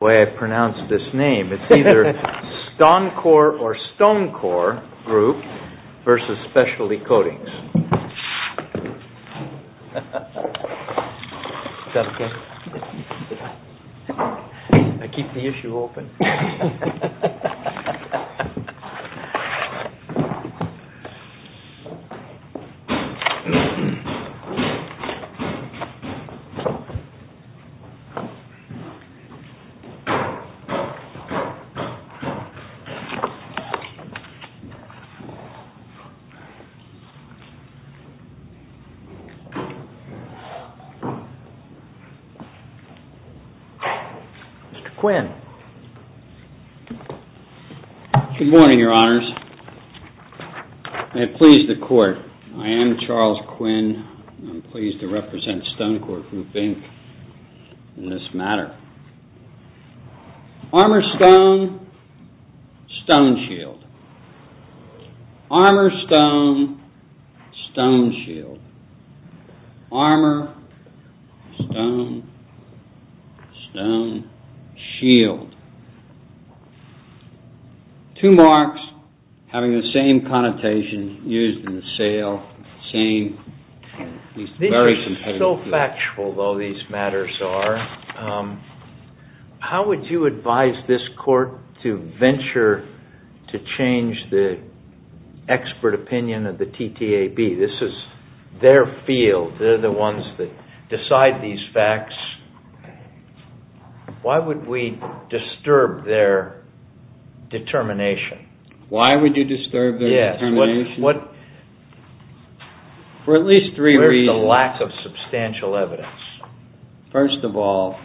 It's either StonCor or StoneCor Group versus Specialty Coatings. I am Charles Quinn and I am pleased to represent StonCor Group, Inc. in this matter. Armor, stone, stone, shield. Armor, stone, stone, shield. Armor, stone, stone, shield. Two marks having the same connotation used in the sale. These are so factual, though, these matters are. How would you advise this court to venture to change the expert opinion of the TTAB? This is their field. They're the ones that decide these facts. Why would we disturb their determination? Why would you disturb their determination? Yes. What is the lack of substantial evidence? First of all,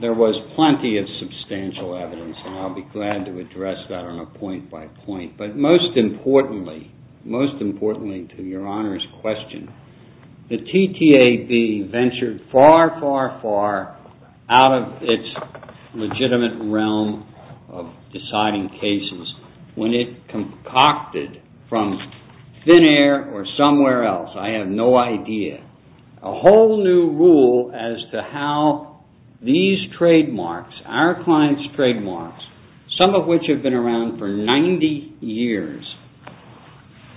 there was plenty of substantial evidence and I'll be glad to address that on a point by point. But most importantly, most importantly to your Honor's question, the TTAB ventured far, far, far out of its legitimate realm of deciding cases when it concocted from thin air or somewhere else, I have no idea, a whole new rule as to how these trademarks, our client's trademarks, some of which have been around for 90 years,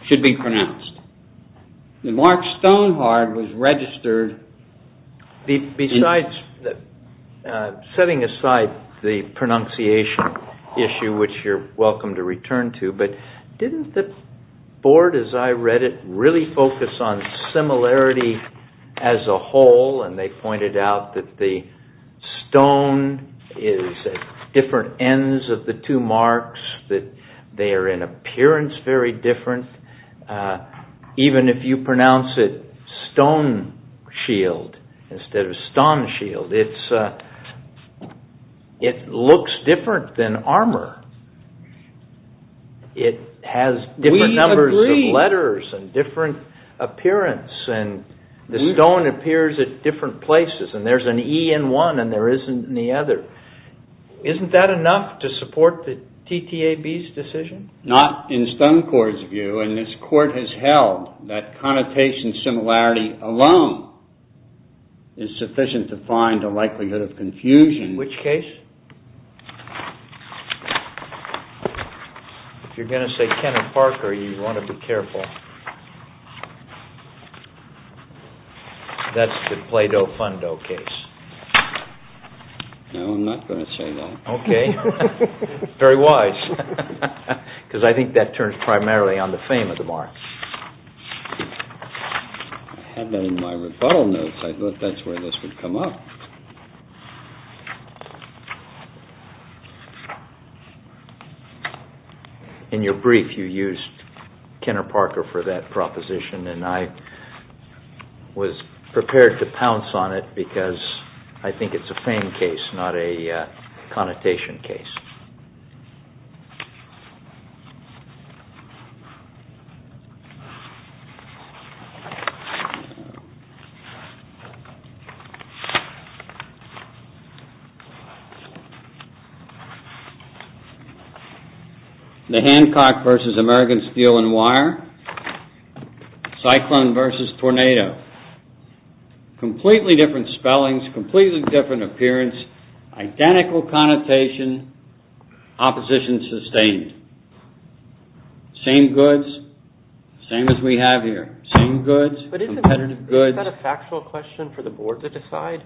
should be pronounced. The mark Stonehard was registered. Setting aside the pronunciation issue, which you're welcome to return to, but didn't the board, as I read it, really focus on similarity as a whole and they pointed out that the stone is different ends of the two marks, that they are in appearance very different, even if you pronounce it stone shield instead of stone shield, it looks different than armor. We agree. It has different numbers of letters and different appearance and the stone appears at different places and there's an E in one and there isn't in the other. Isn't that enough to support the TTAB's decision? Not in Stonecourt's view and this court has held that connotation similarity alone is sufficient to find a likelihood of confusion. Which case? If you're going to say Kenneth Parker, you want to be careful. That's the Plato-Fundo case. No, I'm not going to say that. Okay, very wise, because I think that turns primarily on the fame of the mark. I had that in my rebuttal notes, I thought that's where this would come up. In your brief you used Kenneth Parker for that proposition and I was prepared to pounce on it because I think it's a fame case, not a connotation case. The Hancock vs. American Steel and Wire, Cyclone vs. Tornado. Completely different spellings, completely different appearance, identical connotation, opposition sustained. Same goods, same as we have here. But isn't that a factual question for the board to decide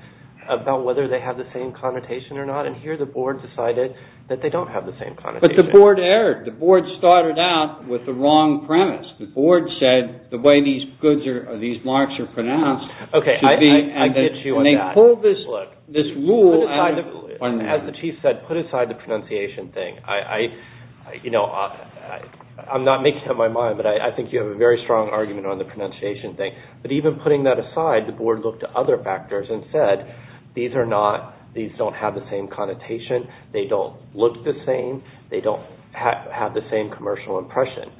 about whether they have the same connotation or not? And here the board decided that they don't have the same connotation. But the board erred. The board started out with the wrong premise. The board said the way these goods or these marks are pronounced should be. Okay, I get you on that. And they pulled this rule out of. As the chief said, put aside the pronunciation thing. I'm not making up my mind but I think you have a very strong argument on the pronunciation thing. But even putting that aside, the board looked at other factors and said these don't have the same connotation. They don't look the same. They don't have the same commercial impression.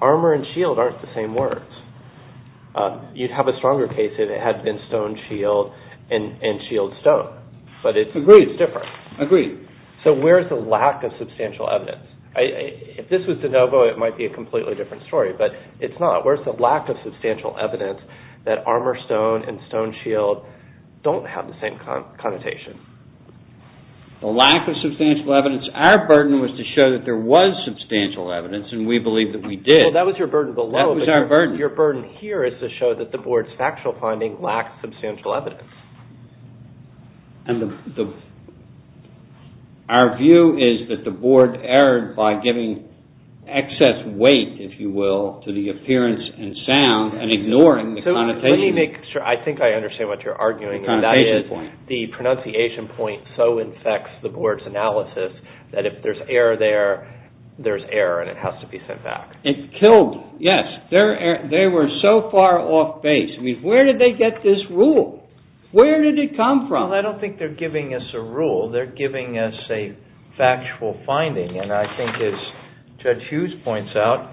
Armor and shield aren't the same words. You'd have a stronger case if it had been stone shield and shield stone. But it's different. I agree. So where's the lack of substantial evidence? If this was de novo, it might be a completely different story. But it's not. Where's the lack of substantial evidence that armor stone and stone shield don't have the same connotation? The lack of substantial evidence. Our burden was to show that there was substantial evidence and we believe that we did. Well, that was your burden below. That was our burden. Your burden here is to show that the board's factual finding lacked substantial evidence. And our view is that the board erred by giving excess weight, if you will, to the appearance and sound and ignoring the connotation. Let me make sure. I think I understand what you're arguing. The connotation point. The pronunciation point so infects the board's analysis that if there's error there, there's error and it has to be sent back. It killed. Yes. They were so far off base. Where did they get this rule? Where did it come from? Well, I don't think they're giving us a rule. They're giving us a factual finding. And I think as Judge Hughes points out,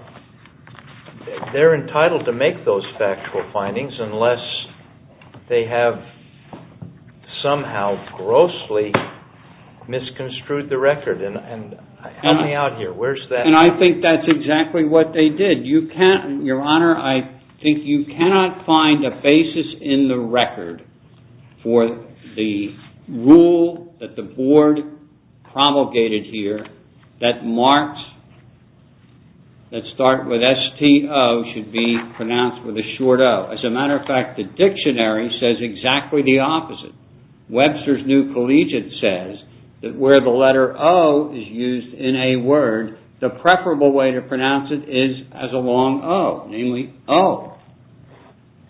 they're entitled to make those factual findings unless they have somehow grossly misconstrued the record. And help me out here. Where's that? And I think that's exactly what they did. Your Honor, I think you cannot find a basis in the record for the rule that the board promulgated here that marks that start with S-T-O should be pronounced with a short O. As a matter of fact, the dictionary says exactly the opposite. Webster's New Collegiate says that where the letter O is used in a word, the preferable way to pronounce it is as a long O, namely O.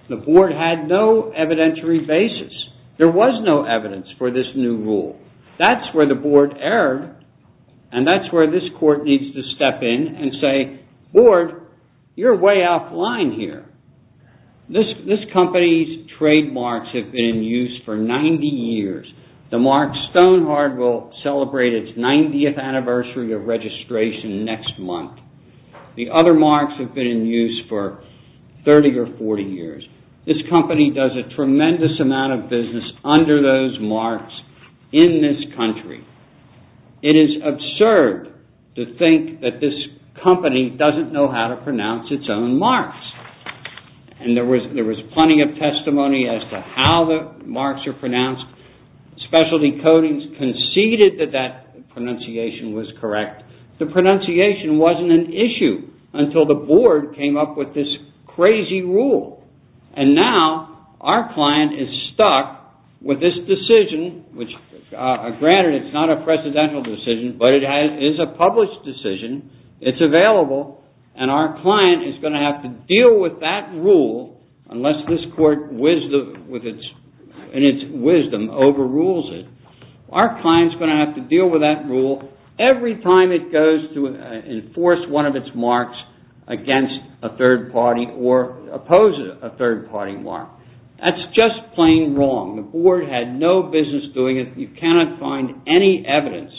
The board had no evidentiary basis. There was no evidence for this new rule. That's where the board erred. And that's where this court needs to step in and say, board, you're way offline here. This company's trademarks have been in use for 90 years. The mark Stonehard will celebrate its 90th anniversary of registration next month. The other marks have been in use for 30 or 40 years. This company does a tremendous amount of business under those marks in this country. It is absurd to think that this company doesn't know how to pronounce its own marks. And there was plenty of testimony as to how the marks are pronounced. Specialty Codings conceded that that pronunciation was correct. The pronunciation wasn't an issue until the board came up with this crazy rule. And now our client is stuck with this decision, which, granted, it's not a presidential decision, but it is a published decision. It's available. And our client is going to have to deal with that rule unless this court, in its wisdom, overrules it. Our client's going to have to deal with that rule every time it goes to enforce one of its marks against a third party or oppose a third party mark. That's just plain wrong. The board had no business doing it. You cannot find any evidence.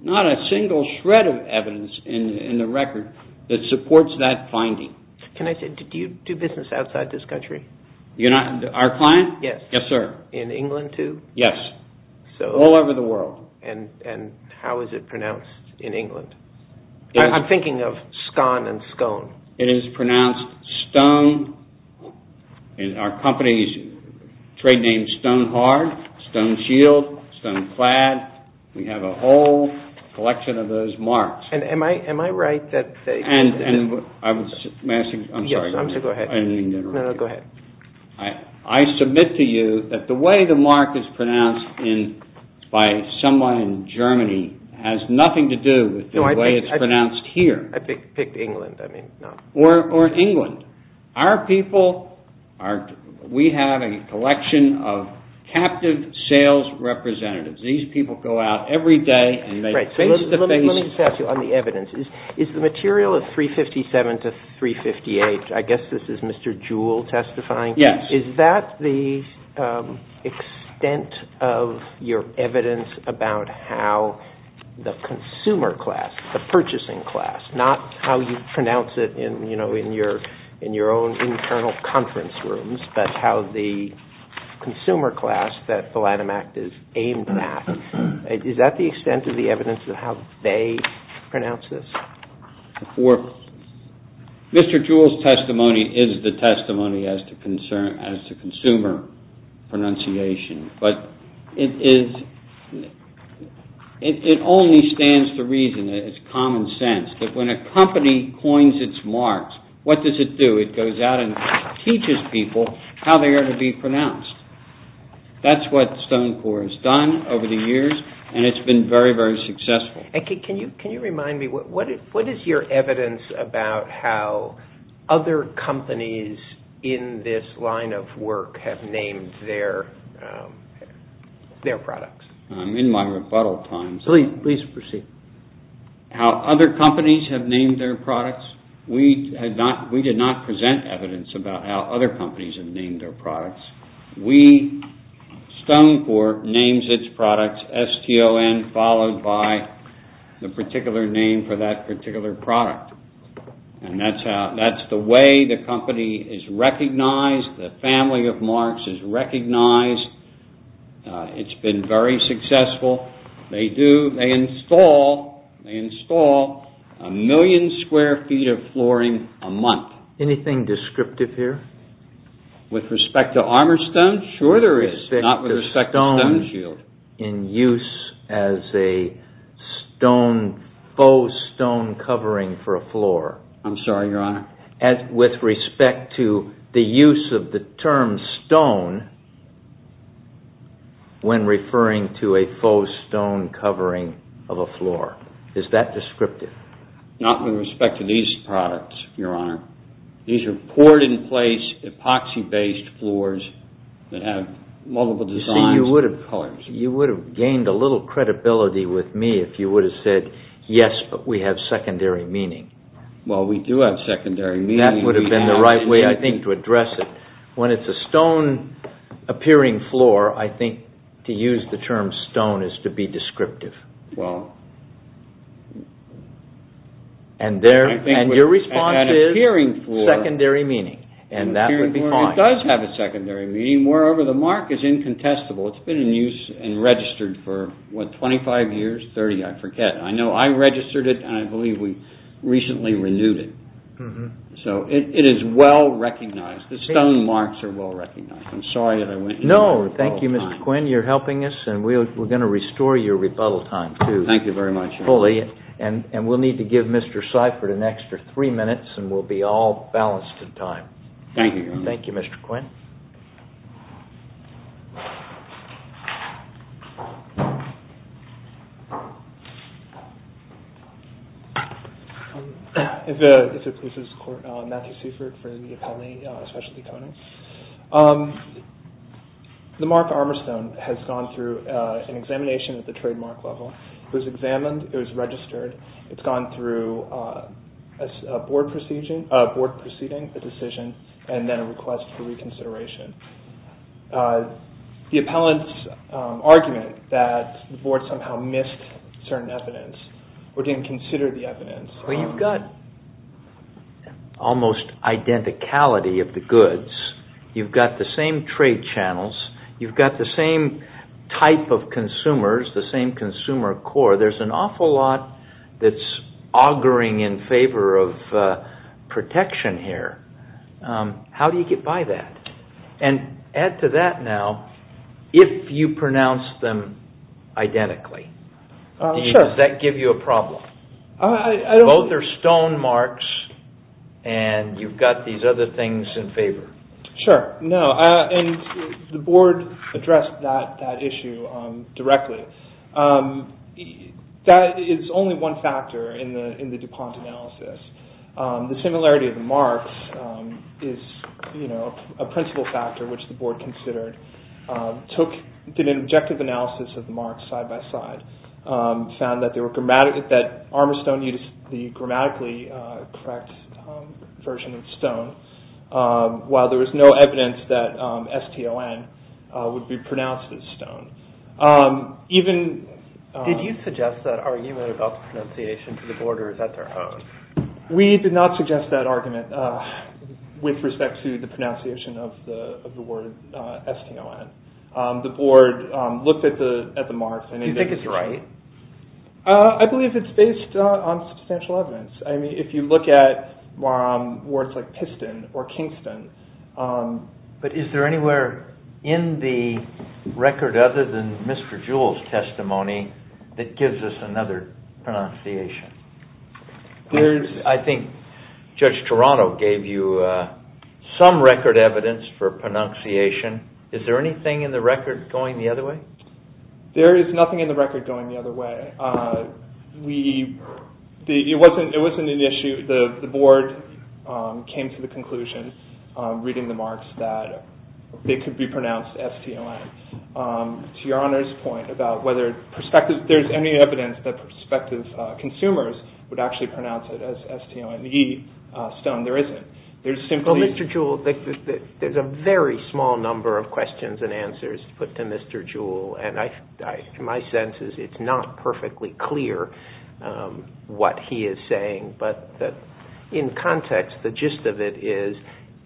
Not a single shred of evidence in the record that supports that finding. Can I say, do you do business outside this country? Our client? Yes. Yes, sir. In England, too? Yes. All over the world. And how is it pronounced in England? I'm thinking of scone and scone. It is pronounced stone. Our company's trade name is Stone Hard, Stone Shield, Stone Clad. We have a whole collection of those marks. Am I right that they – I'm sorry. Go ahead. I submit to you that the way the mark is pronounced by someone in Germany has nothing to do with the way it's pronounced here. I picked England. Or England. Our people are – we have a collection of captive sales representatives. These people go out every day and make face-to-face – Let me just ask you on the evidence. Is the material of 357 to 358 – I guess this is Mr. Jewell testifying. Yes. Is that the extent of your evidence about how the consumer class, the purchasing class, not how you pronounce it in your own internal conference rooms, but how the consumer class that the Lanham Act is aimed at, is that the extent of the evidence of how they pronounce this? Mr. Jewell's testimony is the testimony as to consumer pronunciation, but it is – it only stands to reason, it's common sense, that when a company coins its marks, what does it do? It goes out and teaches people how they are to be pronounced. That's what Stone Core has done over the years, and it's been very, very successful. Can you remind me, what is your evidence about how other companies in this line of work have named their products? I'm in my rebuttal times. Please proceed. How other companies have named their products? We did not present evidence about how other companies have named their products. We, Stone Core, names its products S-T-O-N, followed by the particular name for that particular product. And that's the way the company is recognized, the family of marks is recognized. It's been very successful. They install a million square feet of flooring a month. Anything descriptive here? With respect to armor stone, sure there is. With respect to stone, in use as a stone, faux stone covering for a floor. I'm sorry, Your Honor. With respect to the use of the term stone, when referring to a faux stone covering of a floor. Is that descriptive? Not with respect to these products, Your Honor. These are poured-in-place, epoxy-based floors that have multiple designs and colors. You see, you would have gained a little credibility with me if you would have said, yes, but we have secondary meaning. Well, we do have secondary meaning. That would have been the right way, I think, to address it. When it's a stone-appearing floor, I think to use the term stone is to be descriptive. Your response is secondary meaning, and that would be fine. It does have a secondary meaning. Moreover, the mark is incontestable. It's been in use and registered for 25 years, 30, I forget. I know I registered it, and I believe we recently renewed it. It is well-recognized. The stone marks are well-recognized. I'm sorry that I went into it all the time. No, thank you, Mr. Quinn. You're helping us, and we're going to restore your rebuttal time. Thank you very much. Fully. We'll need to give Mr. Seifert an extra three minutes, and we'll be all balanced in time. Thank you, Your Honor. Thank you, Mr. Quinn. If it pleases the Court, Matthew Seifert from the Appellee Specialty Company. The marked armor stone has gone through an examination at the trademark level. It was examined. It was registered. It's gone through a board proceeding, a decision, and then a request for reconsideration. The appellant's argument that the board somehow missed certain evidence or didn't consider the evidence. You've got almost identicality of the goods. You've got the same trade channels. You've got the same type of consumers, the same consumer core. There's an awful lot that's auguring in favor of protection here. How do you get by that? And add to that now, if you pronounce them identically, does that give you a problem? Both are stone marks, and you've got these other things in favor. Sure. No, and the board addressed that issue directly. That is only one factor in the DuPont analysis. The similarity of the marks is a principal factor, which the board considered. Took an objective analysis of the marks side by side. Found that Armistone used the grammatically correct version of stone, while there was no evidence that S-T-O-N would be pronounced as stone. Did you suggest that argument about the pronunciation to the boarders at their home? We did not suggest that argument with respect to the pronunciation of the word S-T-O-N. The board looked at the marks. Do you think it's right? I believe it's based on substantial evidence. If you look at words like Piston or Kingston. But is there anywhere in the record other than Mr. Jewell's testimony that gives us another pronunciation? I think Judge Toronto gave you some record evidence for pronunciation. Is there anything in the record going the other way? There is nothing in the record going the other way. It wasn't an issue. The board came to the conclusion, reading the marks, that they could be pronounced S-T-O-N. To Your Honor's point about whether there's any evidence that prospective consumers would actually pronounce it as S-T-O-N-E, stone, there isn't. There's a very small number of questions and answers put to Mr. Jewell. My sense is it's not perfectly clear what he is saying. But in context, the gist of it is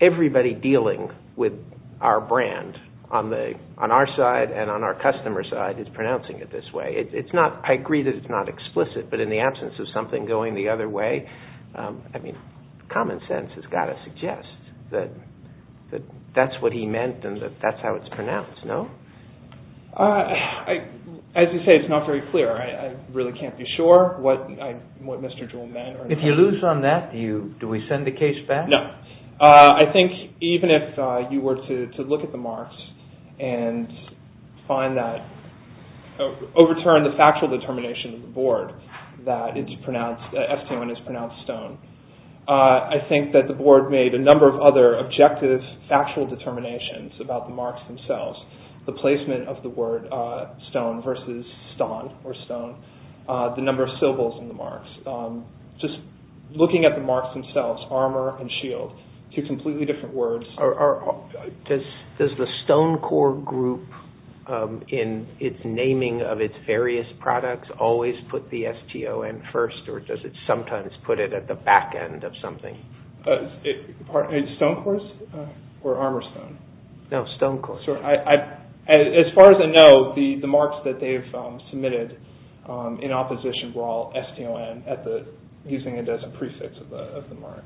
everybody dealing with our brand on our side and on our customer's side is pronouncing it this way. I agree that it's not explicit, but in the absence of something going the other way, common sense has got to suggest that that's what he meant and that's how it's pronounced, no? As you say, it's not very clear. I really can't be sure what Mr. Jewell meant. If you lose on that, do we send the case back? No. I think even if you were to look at the marks and overturn the factual determination of the board that S-T-O-N is pronounced stone, I think that the board made a number of other objective, factual determinations about the marks themselves, the placement of the word stone versus stone, the number of syllables in the marks, just looking at the marks themselves, armor and shield, two completely different words. Does the Stonecorp group in its naming of its various products always put the S-T-O-N first or does it sometimes put it at the back end of something? Stonecorp or Armourstone? No, Stonecorp. As far as I know, the marks that they've submitted in opposition were all S-T-O-N using it as a prefix of the mark.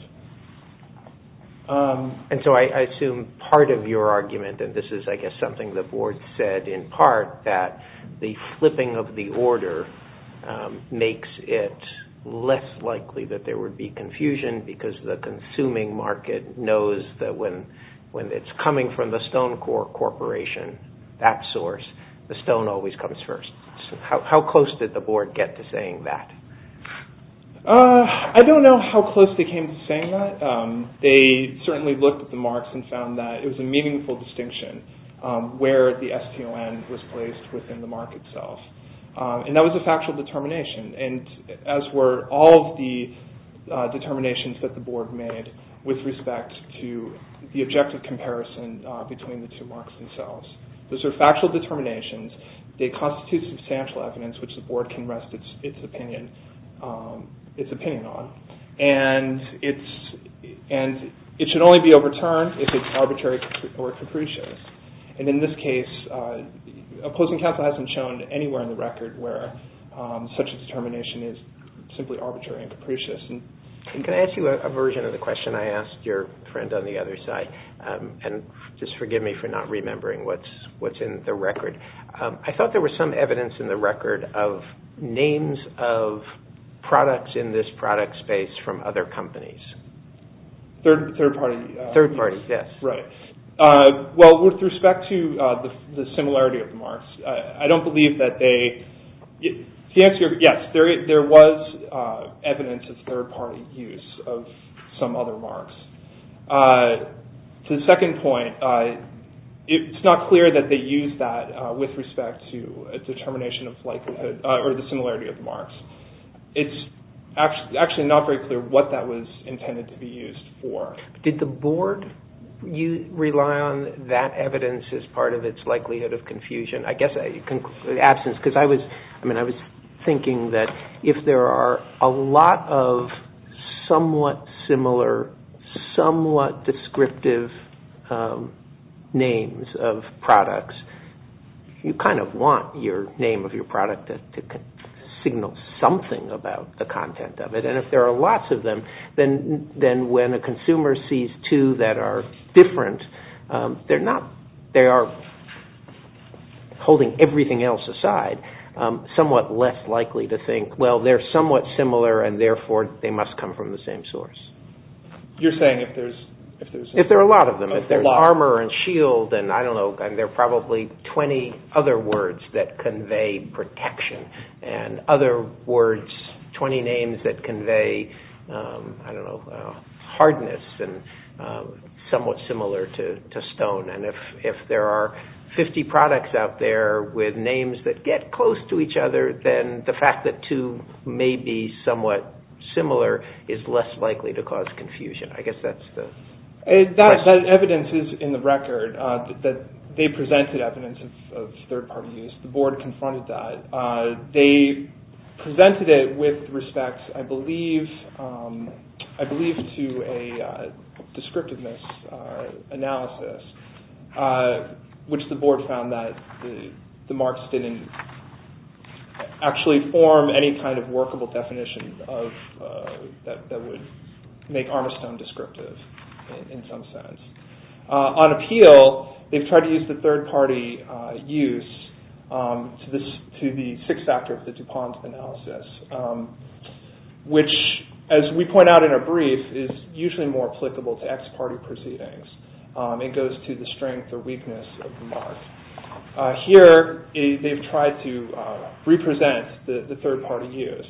And so I assume part of your argument, and this is I guess something the board said in part, that the flipping of the order makes it less likely that there would be confusion because the consuming market knows that when it's coming from the Stonecorp corporation, that source, the stone always comes first. How close did the board get to saying that? I don't know how close they came to saying that. They certainly looked at the marks and found that it was a meaningful distinction where the S-T-O-N was placed within the mark itself. And that was a factual determination. And as were all of the determinations that the board made with respect to the objective comparison between the two marks themselves. Those are factual determinations. They constitute substantial evidence which the board can rest its opinion on. And it should only be overturned if it's arbitrary or capricious. And in this case, opposing counsel hasn't shown anywhere in the record where such a determination is simply arbitrary and capricious. Can I ask you a version of the question I asked your friend on the other side? And just forgive me for not remembering what's in the record. I thought there was some evidence in the record of names of products in this product space from other companies. Third party. Third party, yes. Right. Well, with respect to the similarity of the marks, I don't believe that they... The answer is yes, there was evidence of third party use of some other marks. To the second point, it's not clear that they used that with respect to a determination of likelihood or the similarity of the marks. It's actually not very clear what that was intended to be used for. Did the board rely on that evidence as part of its likelihood of confusion? I guess absence, because I was thinking that if there are a lot of somewhat similar, somewhat descriptive names of products, you kind of want your name of your product to signal something about the content of it. And if there are lots of them, then when a consumer sees two that are different, they are holding everything else aside, somewhat less likely to think, well, they're somewhat similar and therefore they must come from the same source. You're saying if there's... If there are a lot of them. If there's armor and shield and I don't know, there are probably 20 other words that convey protection. And other words, 20 names that convey, I don't know, hardness and somewhat similar to stone. And if there are 50 products out there with names that get close to each other, then the fact that two may be somewhat similar is less likely to cause confusion. I guess that's the question. That evidence is in the record that they presented evidence of third party use. The board confronted that. They presented it with respect, I believe, to a descriptiveness analysis, which the board found that the marks didn't actually form any kind of workable definition that would make armor stone descriptive in some sense. On appeal, they've tried to use the third party use to the sixth factor of the DuPont analysis, which, as we point out in a brief, is usually more applicable to ex-party proceedings. It goes to the strength or weakness of the mark. Here, they've tried to represent the third party use,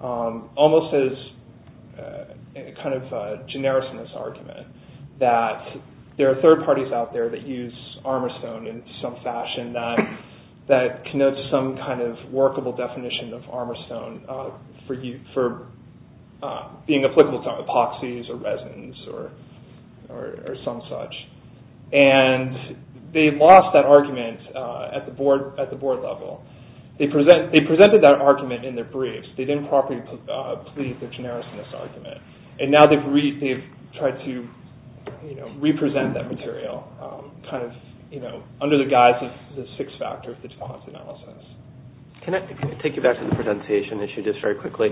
almost as a kind of generousness argument, that there are third parties out there that use armor stone in some fashion that connotes some kind of workable definition of armor stone for being applicable to epoxies or resins or some such. And they've lost that argument at the board level. They presented that argument in their briefs. They didn't properly plead the generousness argument. And now they've tried to represent that material under the guise of the sixth factor of the DuPont analysis. Can I take you back to the pronunciation issue just very quickly?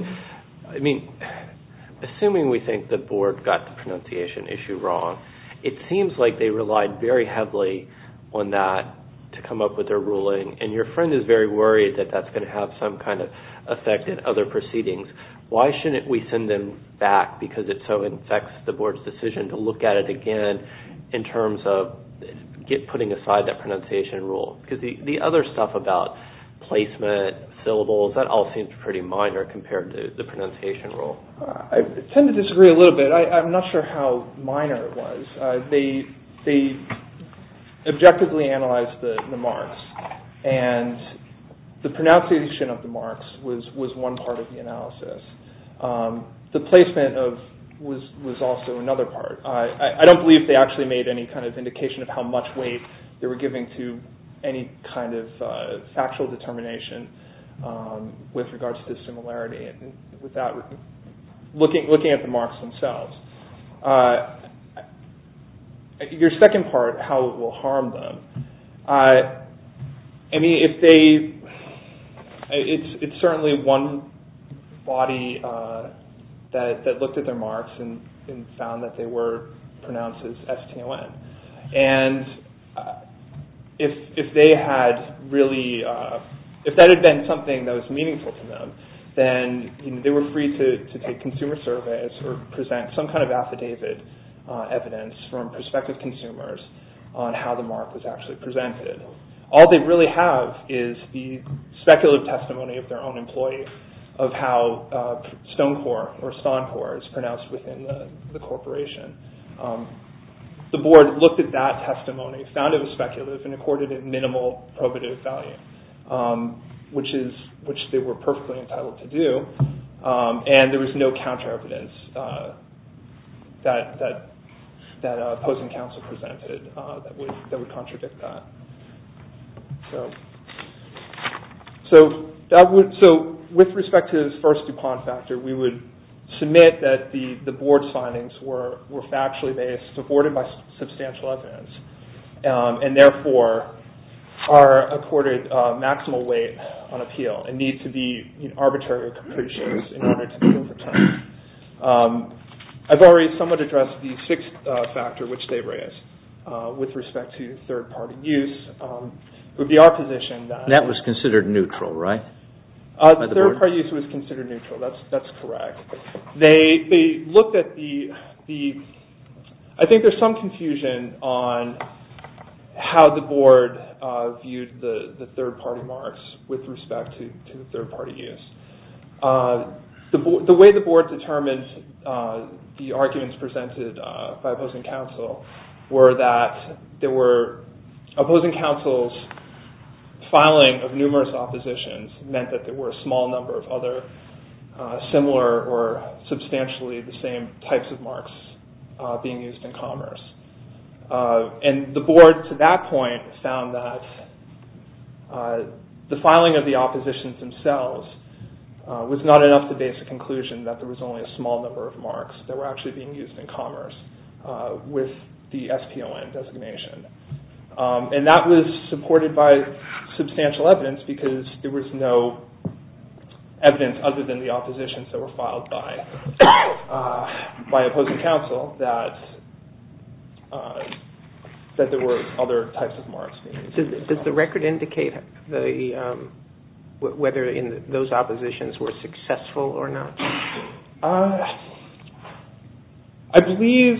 Assuming we think the board got the pronunciation issue wrong, it seems like they relied very heavily on that to come up with their ruling. And your friend is very worried that that's going to have some kind of effect in other proceedings. Why shouldn't we send them back because it so infects the board's decision to look at it again in terms of putting aside that pronunciation rule? Because the other stuff about placement, syllables, that all seems pretty minor compared to the pronunciation rule. I tend to disagree a little bit. I'm not sure how minor it was. They objectively analyzed the marks and the pronunciation of the marks was one part of the analysis. The placement was also another part. I don't believe they actually made any kind of indication of how much weight they were giving to any kind of factual determination with regards to similarity. Looking at the marks themselves, your second part, how it will harm them, it's certainly one body that looked at their marks and found that they were pronounced as STON. And if that had been something that was meaningful to them, then they were free to take consumer surveys or present some kind of affidavit evidence from prospective consumers on how the mark was actually presented. All they really have is the speculative testimony of their own employee of how STONCOR is pronounced within the corporation. The board looked at that testimony, found it was speculative, and accorded it minimal probative value, which they were perfectly entitled to do. And there was no counter evidence that opposing counsel presented that would contradict that. So with respect to this first DuPont factor, we would submit that the board signings were factually based, supported by substantial evidence, and therefore are accorded maximal weight on appeal and need to be arbitrary or capricious in order to be overturned. I've already somewhat addressed the sixth factor, which they raised, with respect to third-party use. It would be our position that... That was considered neutral, right? Third-party use was considered neutral. That's correct. They looked at the... I think there's some confusion on how the board viewed the third-party marks with respect to third-party use. The way the board determined the arguments presented by opposing counsel were that there were... Opposing counsel's filing of numerous oppositions meant that there were a small number of other similar or substantially the same types of marks being used in commerce. And the board, to that point, found that the filing of the oppositions themselves was not enough to base a conclusion that there was only a small number of marks that were actually being used in commerce with the SPON designation. And that was supported by substantial evidence because there was no evidence other than the oppositions that were filed by opposing counsel that there were other types of marks being used. Does the record indicate whether those oppositions were successful or not? I believe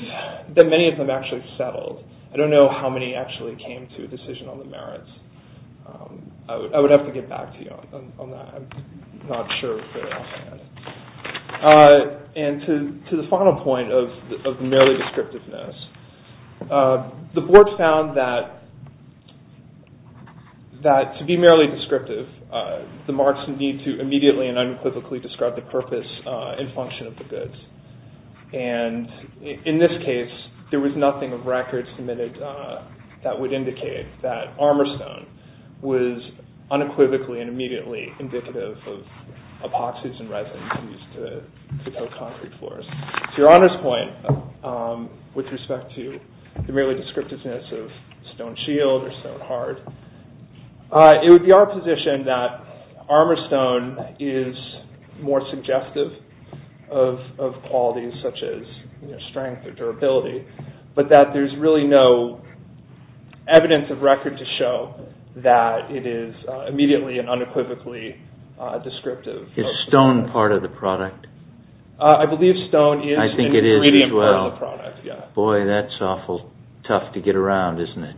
that many of them actually settled. I don't know how many actually came to a decision on the merits. I would have to get back to you on that. I'm not sure. And to the final point of merely descriptiveness, the board found that to be merely descriptive, the marks need to immediately and unequivocally describe the purpose and function of the goods. And in this case, there was nothing of record submitted that would indicate that armor stone was unequivocally and immediately indicative of epoxies and resins used to fill concrete floors. To your honest point, with respect to the merely descriptiveness of stone shield or stone heart, it would be our position that armor stone is more suggestive of qualities such as strength or durability, but that there's really no evidence of record to show that it is immediately and unequivocally descriptive. Is stone part of the product? I believe stone is an ingredient part of the product. Boy, that's awful tough to get around, isn't it?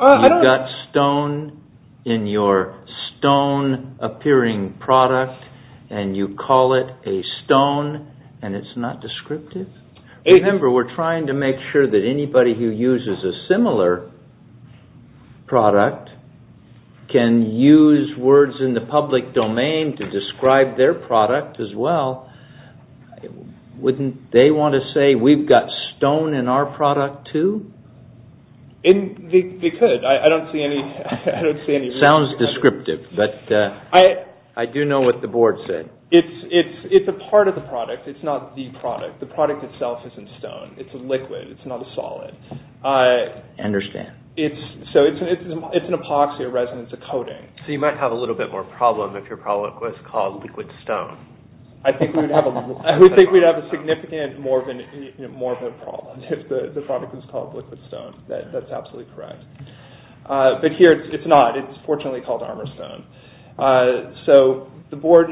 You've got stone in your stone-appearing product and you call it a stone and it's not descriptive? Remember, we're trying to make sure that anybody who uses a similar product can use words in the public domain to describe their product as well Wouldn't they want to say we've got stone in our product too? They could. I don't see any reason for that. Sounds descriptive, but I do know what the board said. It's a part of the product. It's not the product. The product itself isn't stone. It's a liquid. It's not a solid. I understand. So it's an epoxy, a resin, it's a coating. So you might have a little bit more problem if your product was called liquid stone. I think we'd have a significant more of a problem if the product was called liquid stone. That's absolutely correct. But here it's not. It's fortunately called armor stone. So the board,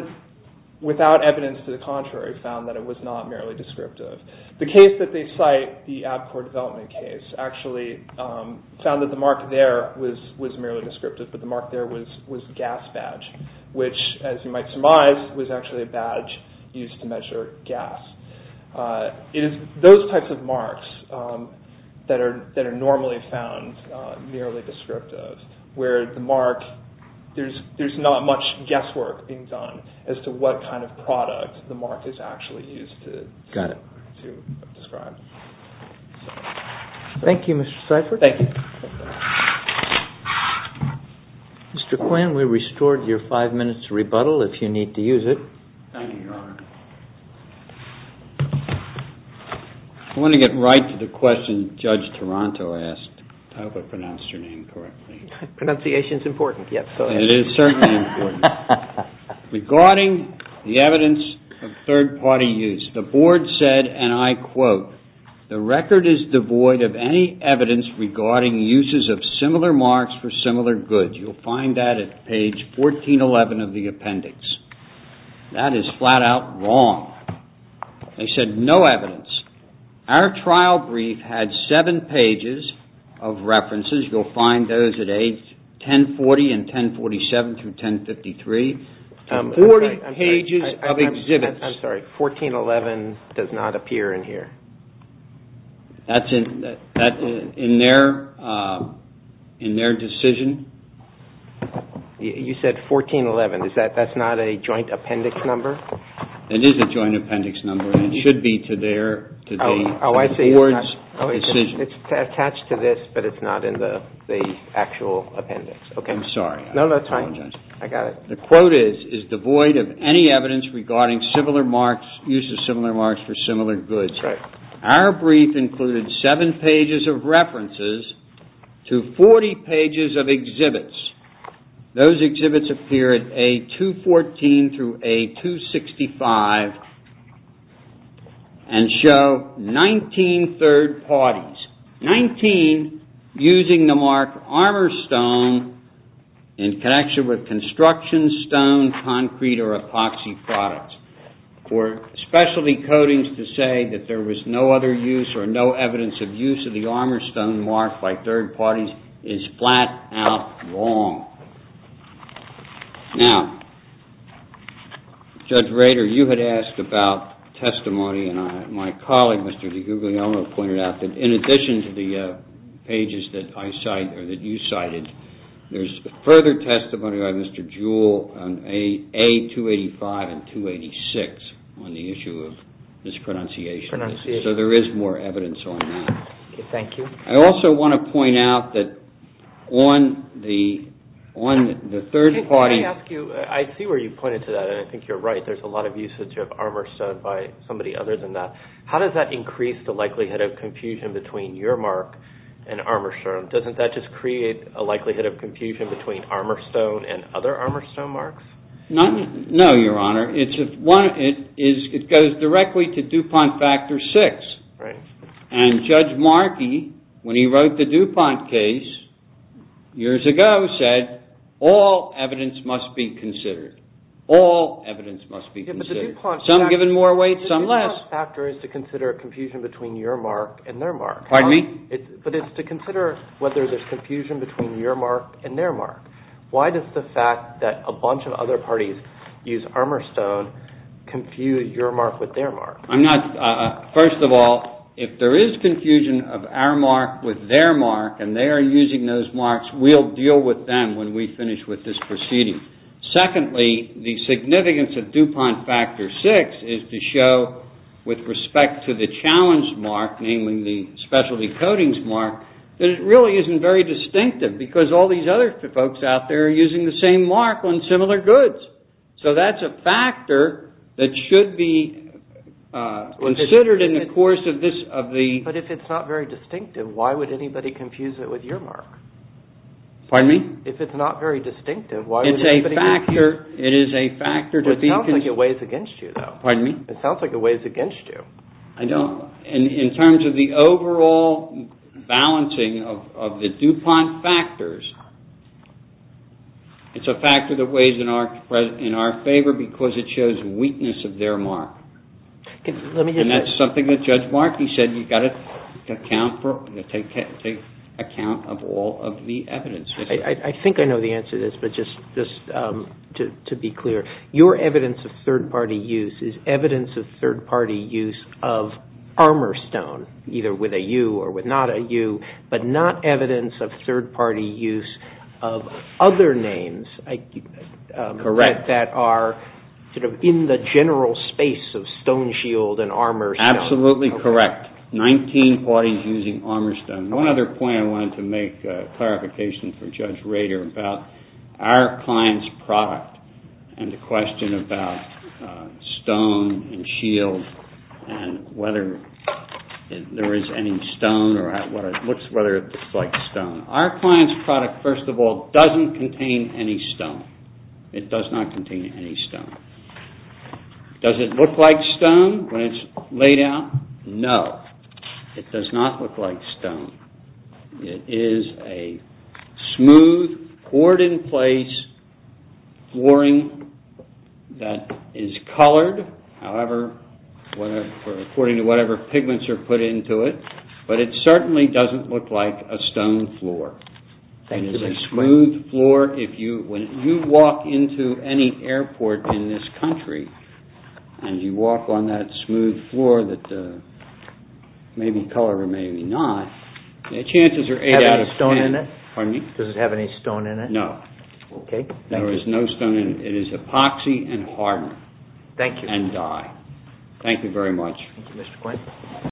without evidence to the contrary, found that it was not merely descriptive. The case that they cite, the ABCOR development case, actually found that the mark there was merely descriptive, but the mark there was gas badge, which, as you might surmise, was actually a badge used to measure gas. It is those types of marks that are normally found merely descriptive, where the mark, there's not much guesswork being done as to what kind of product the mark is actually used to describe. Thank you, Mr. Seifert. Thank you. Mr. Quinn, we restored your five minutes to rebuttal if you need to use it. Thank you, Your Honor. I want to get right to the question Judge Taranto asked. I hope I pronounced your name correctly. Pronunciation is important. It is certainly important. Regarding the evidence of third-party use, the board said, and I quote, The record is devoid of any evidence regarding uses of similar marks for similar goods. You'll find that at page 1411 of the appendix. That is flat-out wrong. They said no evidence. Our trial brief had seven pages of references. You'll find those at page 1040 and 1047 through 1053. Forty pages of exhibits. I'm sorry, 1411 does not appear in here. That's in their decision. You said 1411. That's not a joint appendix number? It is a joint appendix number. It should be to the board's decision. It's attached to this, but it's not in the actual appendix. I'm sorry. No, that's fine. I got it. The quote is, is devoid of any evidence regarding use of similar marks for similar goods. Our brief included seven pages of references to 40 pages of exhibits. Those exhibits appear at A214 through A265 and show 19 third-parties. 19 using the mark armor stone in connection with construction stone, concrete, or epoxy products. For specialty coatings to say that there was no other use or no evidence of use of the armor stone mark by third parties is flat-out wrong. Now, Judge Rader, you had asked about testimony. My colleague, Mr. DiGuglielmo, pointed out that in addition to the pages that I cite or that you cited, there's further testimony by Mr. Jewell on A285 and 286 on the issue of this pronunciation. So there is more evidence on that. Thank you. I also want to point out that on the third-party- Can I ask you, I see where you pointed to that, and I think you're right. There's a lot of usage of armor stone by somebody other than that. How does that increase the likelihood of confusion between your mark and armor stone? Doesn't that just create a likelihood of confusion between armor stone and other armor stone marks? No, Your Honor. It goes directly to DuPont Factor VI, and Judge Markey, when he wrote the DuPont case years ago, said, all evidence must be considered. All evidence must be considered. Some given more weight, some less. The DuPont factor is to consider confusion between your mark and their mark. Pardon me? But it's to consider whether there's confusion between your mark and their mark. Why does the fact that a bunch of other parties use armor stone confuse your mark with their mark? First of all, if there is confusion of our mark with their mark and they are using those marks, we'll deal with them when we finish with this proceeding. Secondly, the significance of DuPont Factor VI is to show, with respect to the challenge mark, namely the specialty coatings mark, that it really isn't very distinctive, because all these other folks out there are using the same mark on similar goods. So that's a factor that should be considered in the course of this. But if it's not very distinctive, why would anybody confuse it with your mark? Pardon me? If it's not very distinctive, why would anybody... It is a factor to be... It sounds like it weighs against you, though. Pardon me? It sounds like it weighs against you. In terms of the overall balancing of the DuPont factors, it's a factor that weighs in our favor because it shows weakness of their mark. And that's something that Judge Markey said. You've got to take account of all of the evidence. I think I know the answer to this, but just to be clear, your evidence of third-party use is evidence of third-party use of Armourstone, either with a U or with not a U, but not evidence of third-party use of other names... Correct. ...that are in the general space of Stone Shield and Armourstone. Absolutely correct. Nineteen parties using Armourstone. One other point I wanted to make, a clarification for Judge Rader, about our client's product and the question about Stone and Shield and whether there is any stone or whether it looks like stone. Our client's product, first of all, doesn't contain any stone. It does not contain any stone. Does it look like stone when it's laid out? No, it does not look like stone. It is a smooth, poured-in-place flooring that is colored, according to whatever pigments are put into it, but it certainly doesn't look like a stone floor. Thank you, Mr. Quinn. It is a smooth floor. When you walk into any airport in this country and you walk on that smooth floor that may be colored or may be not, chances are eight out of ten... Does it have any stone in it? Pardon me? Does it have any stone in it? No. Okay, thank you. There is no stone in it. It is epoxy and hardener and dye. Thank you. Thank you very much. Thank you, Mr. Quinn.